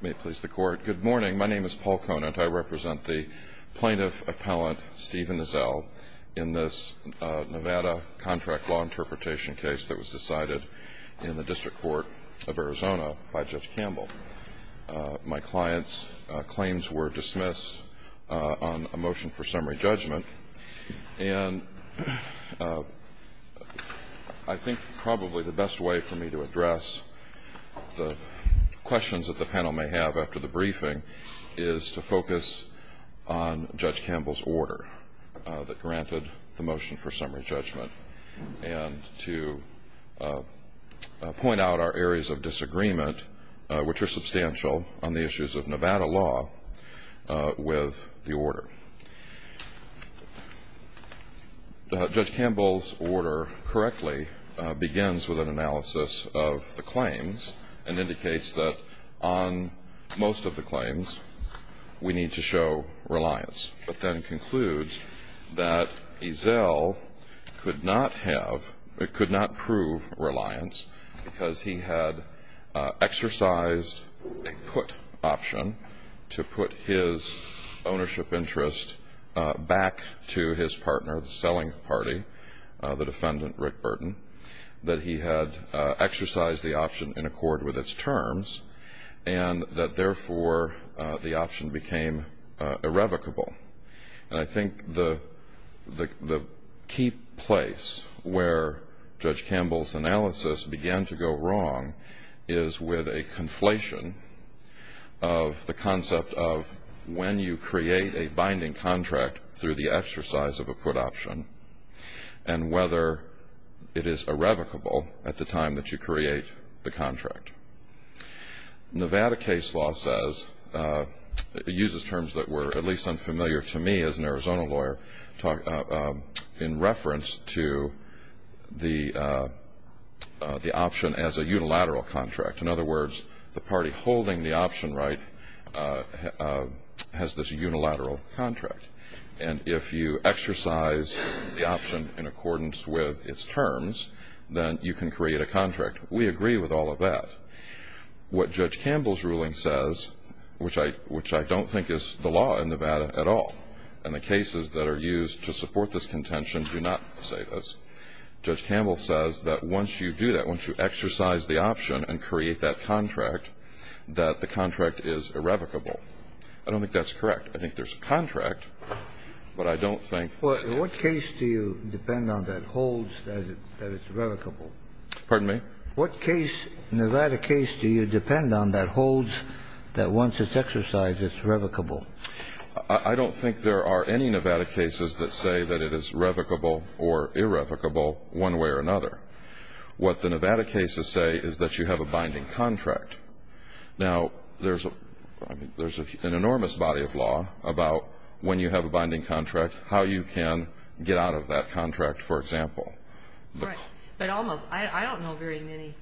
Good morning. My name is Paul Conant. I represent the plaintiff-appellant Stephen Zell in this Nevada contract law interpretation case that was decided in the District Court of Arizona by Judge Campbell. My client's claims were dismissed on a motion for summary judgment. And I think probably the best way for me to address the questions that the panel may have after the briefing is to focus on Judge Campbell's order that granted the motion for summary judgment. And to point out our areas of disagreement, which are substantial on the issues of Nevada law, with the order. Judge Campbell's order correctly begins with an analysis of the claims and indicates that on most of the claims we need to show reliance. But then concludes that Zell could not have, could not prove reliance because he had exercised a put option to put his ownership interest back to his partner, the selling party, the defendant Rick Burton. That he had exercised the option in accord with its terms. And that, therefore, the option became irrevocable. And I think the key place where Judge Campbell's analysis began to go wrong is with a conflation of the concept of when you create a binding contract through the exercise of a put option. And whether it is irrevocable at the time that you create the contract. Nevada case law says, uses terms that were at least unfamiliar to me as an Arizona lawyer, in reference to the option as a unilateral contract. In other words, the party holding the option right has this unilateral contract. And if you exercise the option in accordance with its terms, then you can create a contract. We agree with all of that. What Judge Campbell's ruling says, which I don't think is the law in Nevada at all, and the cases that are used to support this contention do not say this. Judge Campbell says that once you do that, once you exercise the option and create that contract, that the contract is irrevocable. I don't think that's correct. I think there's a contract, but I don't think that's correct. What case do you depend on that holds that it's irrevocable? Pardon me? What Nevada case do you depend on that holds that once it's exercised, it's irrevocable? I don't think there are any Nevada cases that say that it is revocable or irrevocable one way or another. What the Nevada cases say is that you have a binding contract. Now, there's an enormous body of law about when you have a binding contract, how you can get out of that contract, for example. Right. But almost. I don't know very many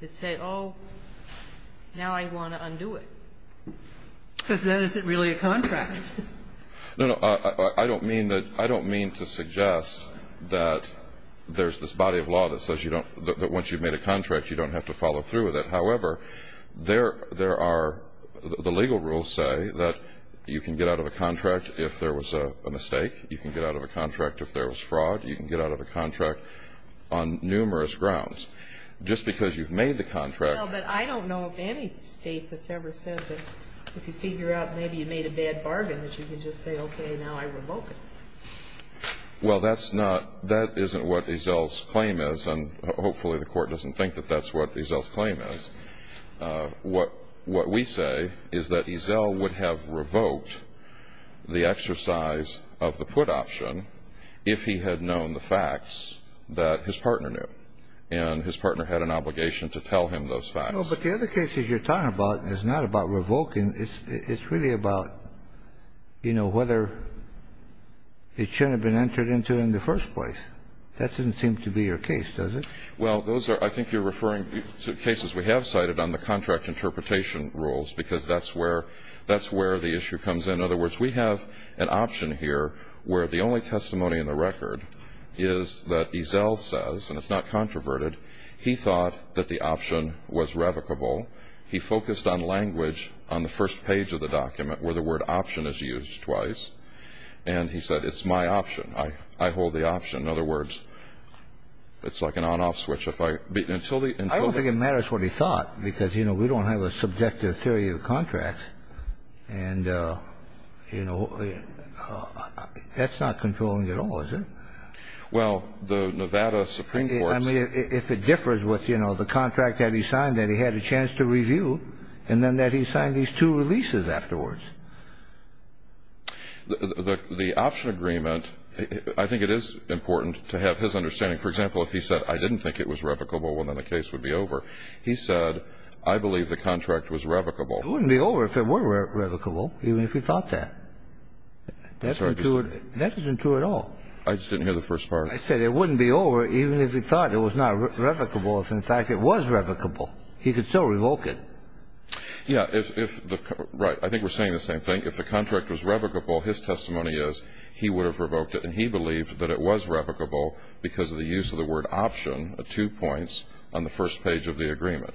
that say, oh, now I want to undo it. Because then is it really a contract? No, no. I don't mean to suggest that there's this body of law that says you don't, that once you've made a contract, you don't have to follow through with it. However, there are, the legal rules say that you can get out of a contract if there was a mistake. You can get out of a contract if there was fraud. You can get out of a contract on numerous grounds. Just because you've made the contract. Well, but I don't know of any state that's ever said that if you figure out maybe you made a bad bargain, that you can just say, okay, now I revoke it. Well, that's not, that isn't what Ezell's claim is, and hopefully the Court doesn't think that that's what Ezell's claim is. What we say is that Ezell would have revoked the exercise of the put option if he had known the facts that his partner knew. And his partner had an obligation to tell him those facts. No, but the other cases you're talking about is not about revoking. It's really about, you know, whether it should have been entered into in the first place. That doesn't seem to be your case, does it? Well, those are, I think you're referring to cases we have cited on the contract interpretation rules, because that's where, that's where the issue comes in. In other words, we have an option here where the only testimony in the record is that Ezell says, and it's not controverted, he thought that the option was revocable. He focused on language on the first page of the document where the word option is used twice. And he said, it's my option. I hold the option. In other words, it's like an on-off switch. I don't think it matters what he thought, because, you know, we don't have a subjective theory of contracts. And, you know, that's not controlling at all, is it? Well, the Nevada Supreme Court's. I mean, if it differs with, you know, the contract that he signed, that he had a chance to review, and then that he signed these two releases afterwards. The option agreement, I think it is important to have his understanding. For example, if he said, I didn't think it was revocable, well, then the case would be over. He said, I believe the contract was revocable. It wouldn't be over if it were revocable, even if he thought that. That's not true. That isn't true at all. I just didn't hear the first part. I said it wouldn't be over even if he thought it was not revocable if, in fact, it was revocable. He could still revoke it. Yeah. Right. I think we're saying the same thing. If the contract was revocable, his testimony is he would have revoked it. And he believed that it was revocable because of the use of the word option, the two points on the first page of the agreement.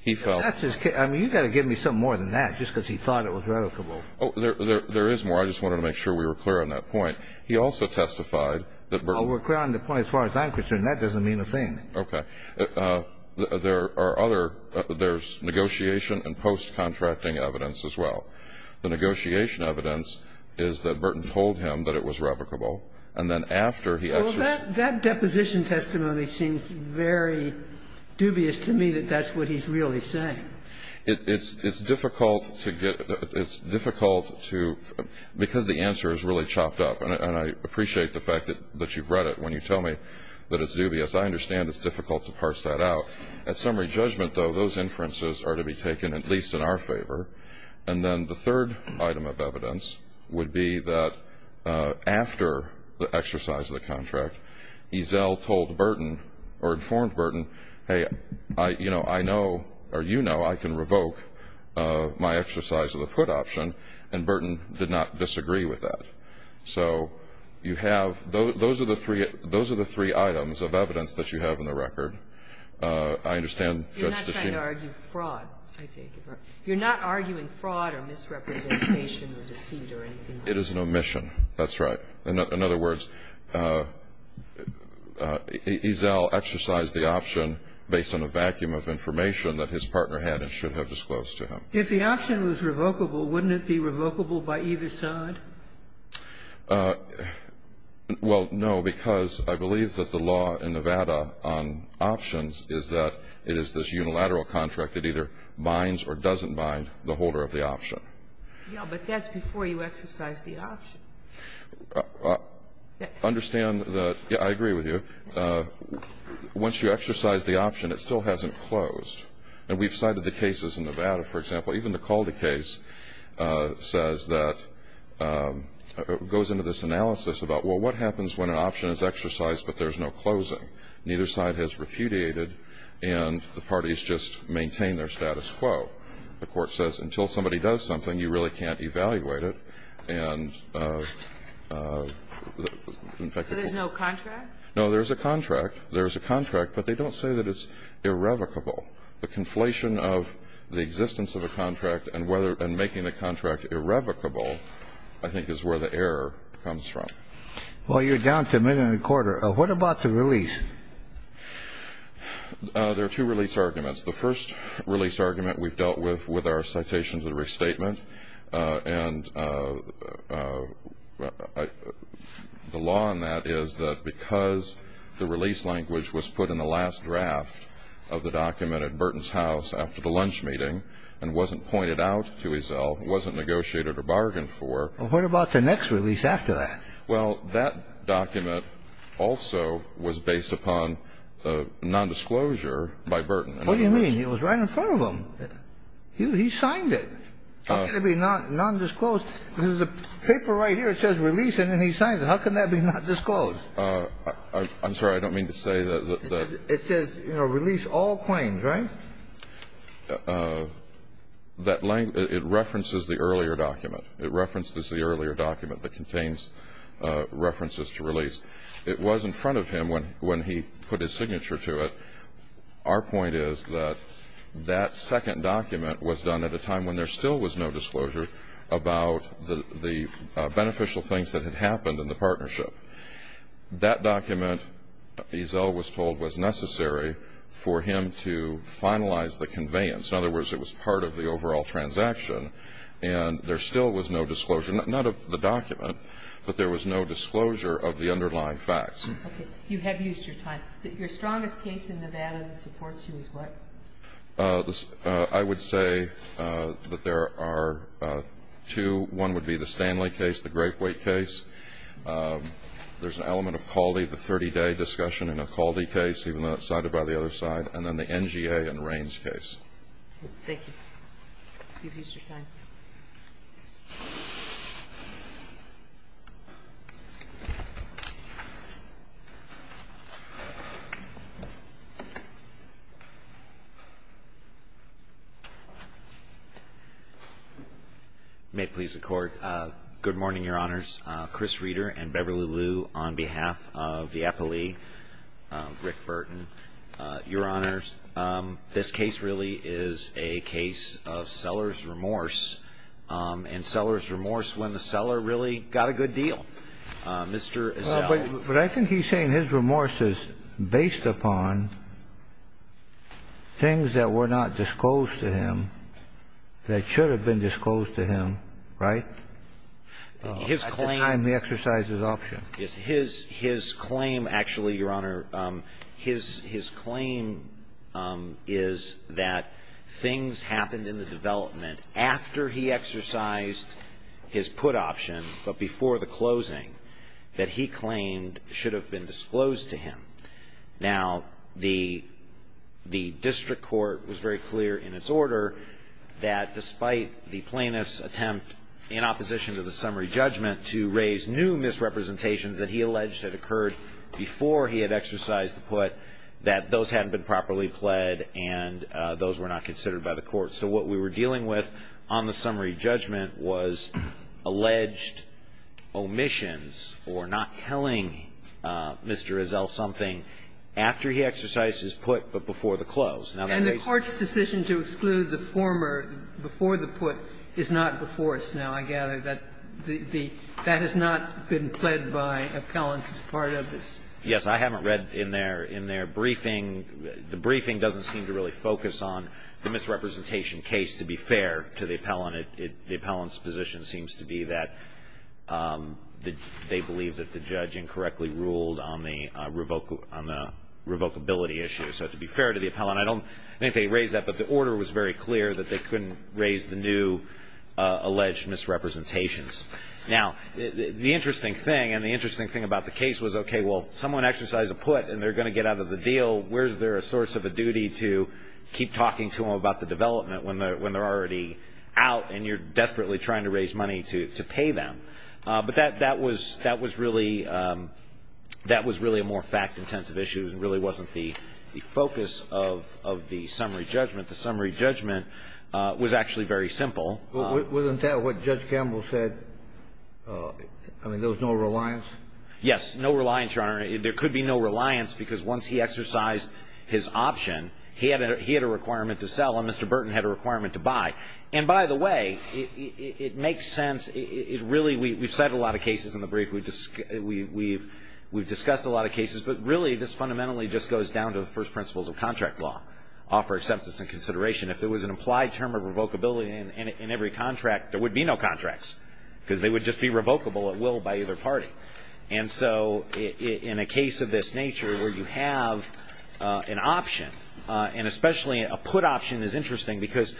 He felt that's his case. I mean, you've got to give me something more than that just because he thought it was revocable. Oh, there is more. I just wanted to make sure we were clear on that point. He also testified that Burton. Oh, we're clear on the point as far as I'm concerned. That doesn't mean a thing. Okay. There are other. There's negotiation and post-contracting evidence as well. The negotiation evidence is that Burton told him that it was revocable. And then after he exercised. Well, that deposition testimony seems very dubious to me that that's what he's really saying. It's difficult to get. It's difficult to, because the answer is really chopped up. And I appreciate the fact that you've read it when you tell me that it's dubious. I understand it's difficult to parse that out. At summary judgment, though, those inferences are to be taken at least in our favor. And then the third item of evidence would be that after the exercise of the contract, Ezell told Burton or informed Burton, hey, you know, I know or you know I can revoke my exercise of the put option. And Burton did not disagree with that. So you have. Those are the three items of evidence that you have in the record. I understand. You're not trying to argue fraud, I take it. You're not arguing fraud or misrepresentation or deceit or anything like that. It is an omission. That's right. In other words, Ezell exercised the option based on a vacuum of information that his partner had and should have disclosed to him. If the option was revocable, wouldn't it be revocable by either side? Well, no, because I believe that the law in Nevada on options is that it is this unilateral contract that either binds or doesn't bind the holder of the option. Yeah, but that's before you exercise the option. Understand that I agree with you. Once you exercise the option, it still hasn't closed. And we've cited the cases in Nevada, for example. Even the Calde case says that goes into this analysis about, well, what happens when an option is exercised but there's no closing? Neither side has repudiated, and the parties just maintain their status quo. The Court says until somebody does something, you really can't evaluate it. And, in fact, the Court So there's no contract? No, there's a contract. There's a contract, but they don't say that it's irrevocable. The conflation of the existence of a contract and making the contract irrevocable, I think, is where the error comes from. Well, you're down to a minute and a quarter. What about the release? There are two release arguments. The first release argument we've dealt with with our citation to restatement. And the law on that is that because the release language was put in the last draft of the document at Burton's house after the lunch meeting and wasn't pointed out to his cell, wasn't negotiated or bargained for. Well, what about the next release after that? Well, that document also was based upon nondisclosure by Burton. What do you mean? It was right in front of him. He signed it. How can it be nondisclosed? Because the paper right here, it says release, and then he signs it. How can that be nondisclosed? I'm sorry. I don't mean to say that the It says, you know, release all claims, right? That language It references the earlier document. It references the earlier document that contains references to release. It was in front of him when he put his signature to it. Our point is that that second document was done at a time when there still was no disclosure about the beneficial things that had happened in the partnership. That document, Ezell was told, was necessary for him to finalize the conveyance. In other words, it was part of the overall transaction, and there still was no disclosure, not of the document, but there was no disclosure of the underlying facts. Okay. You have used your time. Your strongest case in Nevada that supports you is what? I would say that there are two. One would be the Stanley case, the Great Wake case. There's an element of Calde, the 30-day discussion in a Calde case, even though it's cited by the other side, and then the NGA and Raines case. Thank you. You've used your time. May it please the Court. Good morning, Your Honors. Chris Reeder and Beverly Liu on behalf of the appellee, Rick Burton. Your Honors, this case really is a case of seller's remorse, and seller's remorse when the seller really got a good deal. Mr. Ezell. But I think he's saying his remorse is based upon things that were not disclosed to him that should have been disclosed to him, right? His claim. At the time he exercised his option. His claim, actually, Your Honor, his claim is that things happened in the development after he exercised his put option, but before the closing, that he claimed should have been disclosed to him. Now, the district court was very clear in its order that despite the plaintiff's attempt, in opposition to the summary judgment, to raise new misrepresentations that he alleged had occurred before he had exercised the put, that those hadn't been properly pled, and those were not considered by the court. So what we were dealing with on the summary judgment was alleged omissions or not telling Mr. Ezell something after he exercised his put, but before the close. And the court's decision to exclude the former before the put is not before us now, I gather. That has not been pled by appellants as part of this. Yes. I haven't read in their briefing. The briefing doesn't seem to really focus on the misrepresentation case, to be fair, to the appellant. The appellant's position seems to be that they believe that the judge incorrectly ruled on the revocability issue. So to be fair to the appellant, I don't think they raised that, but the order was very clear that they couldn't raise the new alleged misrepresentations. Now, the interesting thing, and the interesting thing about the case was, okay, well, someone exercised a put and they're going to get out of the deal. Where is there a source of a duty to keep talking to them about the development when they're already out and you're desperately trying to raise money to pay them? But that was really a more fact-intensive issue. It really wasn't the focus of the summary judgment. The summary judgment was actually very simple. Wasn't that what Judge Campbell said? I mean, there was no reliance? Yes. No reliance, Your Honor. There could be no reliance because once he exercised his option, he had a requirement to sell and Mr. Burton had a requirement to buy. And by the way, it makes sense. Really, we've cited a lot of cases in the brief. We've discussed a lot of cases. But really, this fundamentally just goes down to the first principles of contract law, offer acceptance and consideration. If there was an implied term of revocability in every contract, there would be no contracts because they would just be revocable at will by either party. And so in a case of this nature where you have an option, and especially a put option is interesting because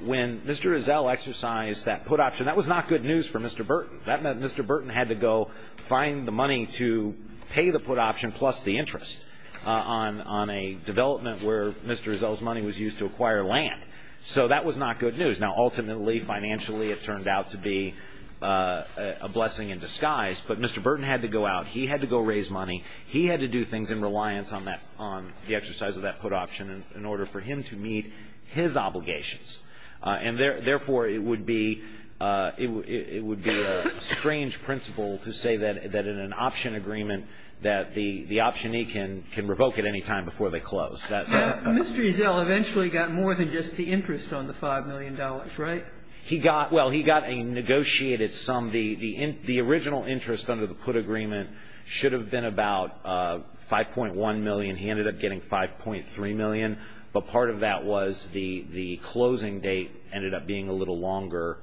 when Mr. Rizal exercised that put option, that was not good news for Mr. Burton. That meant Mr. Burton had to go find the money to pay the put option plus the interest on a development where Mr. Rizal's money was used to acquire land. So that was not good news. Now, ultimately, financially, it turned out to be a blessing in disguise. But Mr. Burton had to go out. He had to go raise money. He had to do things in reliance on that, on the exercise of that put option in order for him to meet his obligations. And therefore, it would be a strange principle to say that in an option agreement that the optionee can revoke at any time before they close. Mr. Rizal eventually got more than just the interest on the $5 million, right? He got – well, he got a negotiated sum. The original interest under the put agreement should have been about 5.1 million. He ended up getting 5.3 million. But part of that was the closing date ended up being a little longer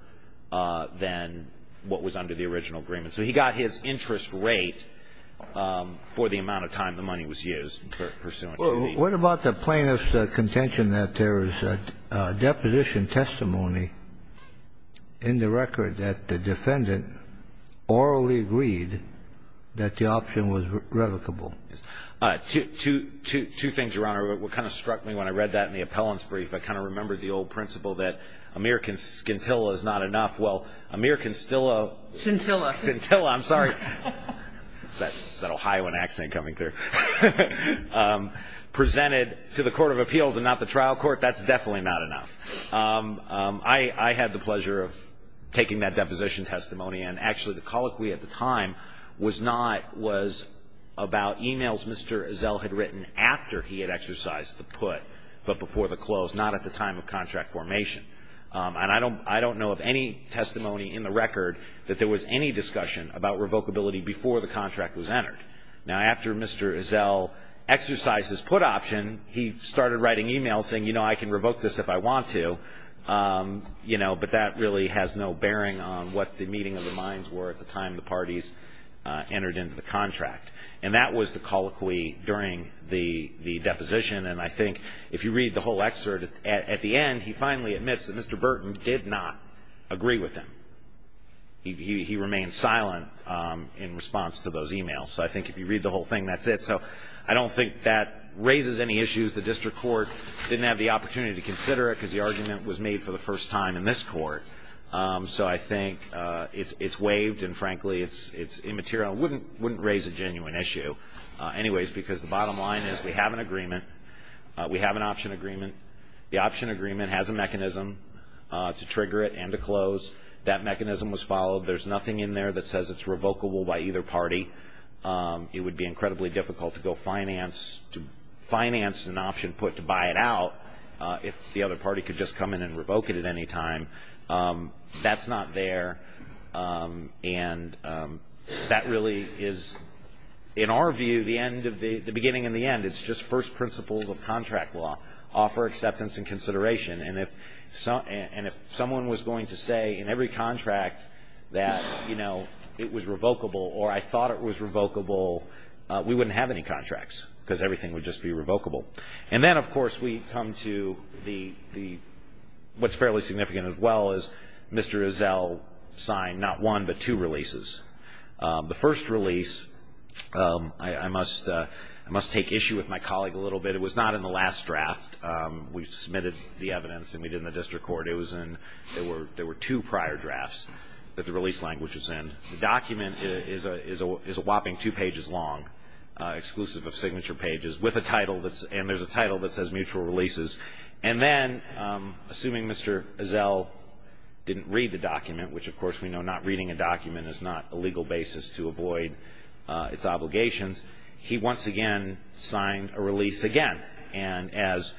than what was under the original agreement. So he got his interest rate for the amount of time the money was used pursuant What about the plaintiff's contention that there is a deposition testimony in the record that the defendant orally agreed that the option was revocable? Two things, Your Honor. What kind of struck me when I read that in the appellant's brief, I kind of remembered the old principle that a mere scintilla is not enough. Well, a mere scintilla – Scintilla. Scintilla. I'm sorry. Is that an Ohioan accent coming through? Presented to the Court of Appeals and not the trial court, that's definitely not enough. I had the pleasure of taking that deposition testimony, and actually the colloquy at the time was not – was about emails Mr. Rizal had written after he had exercised the put but before the close, not at the time of contract formation. And I don't know of any testimony in the record that there was any discussion about revocability before the contract was entered. Now, after Mr. Rizal exercised his put option, he started writing emails saying, you know, I can revoke this if I want to, you know, but that really has no bearing on what the meeting of the minds were at the time the parties entered into the contract. And that was the colloquy during the deposition, and I think if you read the whole excerpt at the end, he finally admits that Mr. Burton did not agree with him. He remained silent in response to those emails. So I think if you read the whole thing, that's it. So I don't think that raises any issues. The district court didn't have the opportunity to consider it because the argument was made for the first time in this court. So I think it's waived and, frankly, it's immaterial. It wouldn't raise a genuine issue. Anyways, because the bottom line is we have an agreement. We have an option agreement. The option agreement has a mechanism to trigger it and to close. That mechanism was followed. There's nothing in there that says it's revocable by either party. It would be incredibly difficult to go finance an option put to buy it out if the other party could just come in and revoke it at any time. That's not there. And that really is, in our view, the beginning and the end. It's just first principles of contract law. Offer acceptance and consideration. And if someone was going to say in every contract that, you know, it was revocable or I thought it was revocable, we wouldn't have any contracts because everything would just be revocable. And then, of course, we come to what's fairly significant as well is Mr. Rizal signed not one but two releases. The first release, I must take issue with my colleague a little bit. It was not in the last draft. We submitted the evidence and we did it in the district court. There were two prior drafts that the release language was in. The document is a whopping two pages long, exclusive of signature pages, and there's a title that says mutual releases. And then, assuming Mr. Rizal didn't read the document, which of course we know not reading a document is not a legal basis to avoid its obligations, he once again signed a release again. And as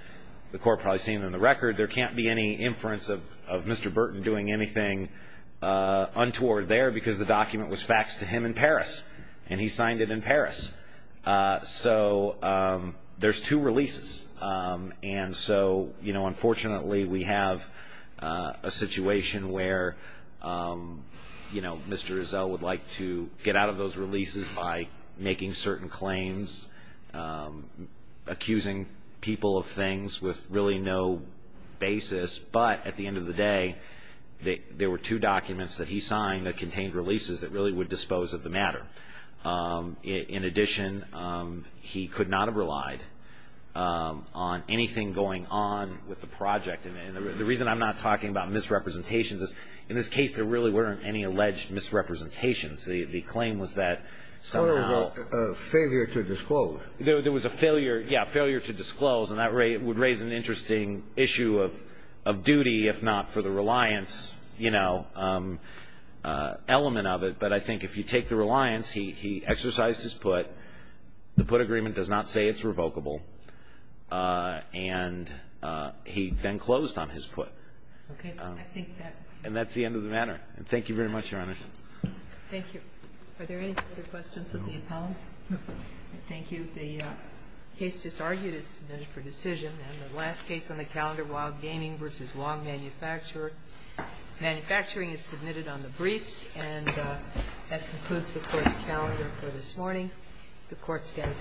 the court probably has seen in the record, there can't be any inference of Mr. Burton doing anything untoward there because the document was faxed to him in Paris and he signed it in Paris. So there's two releases. And so, you know, unfortunately we have a situation where, you know, Mr. Rizal would like to get out of those releases by making certain claims, accusing people of things with really no basis. But at the end of the day, there were two documents that he signed that contained releases that really would dispose of the matter. In addition, he could not have relied on anything going on with the project. And the reason I'm not talking about misrepresentations is, in this case there really weren't any alleged misrepresentations. The claim was that somehow. A failure to disclose. There was a failure, yeah, failure to disclose. And that would raise an interesting issue of duty, if not for the reliance, you know, element of it. But I think if you take the reliance, he exercised his put. The put agreement does not say it's revocable. And he then closed on his put. Okay. I think that. And that's the end of the matter. Thank you very much, Your Honor. Thank you. Are there any further questions of the appellant? No. Thank you. The case just argued is submitted for decision. And the last case on the calendar, Wild Gaming v. Wong Manufacturer. Manufacturing is submitted on the briefs. And that concludes the Court's calendar for this morning. The Court stands adjourned.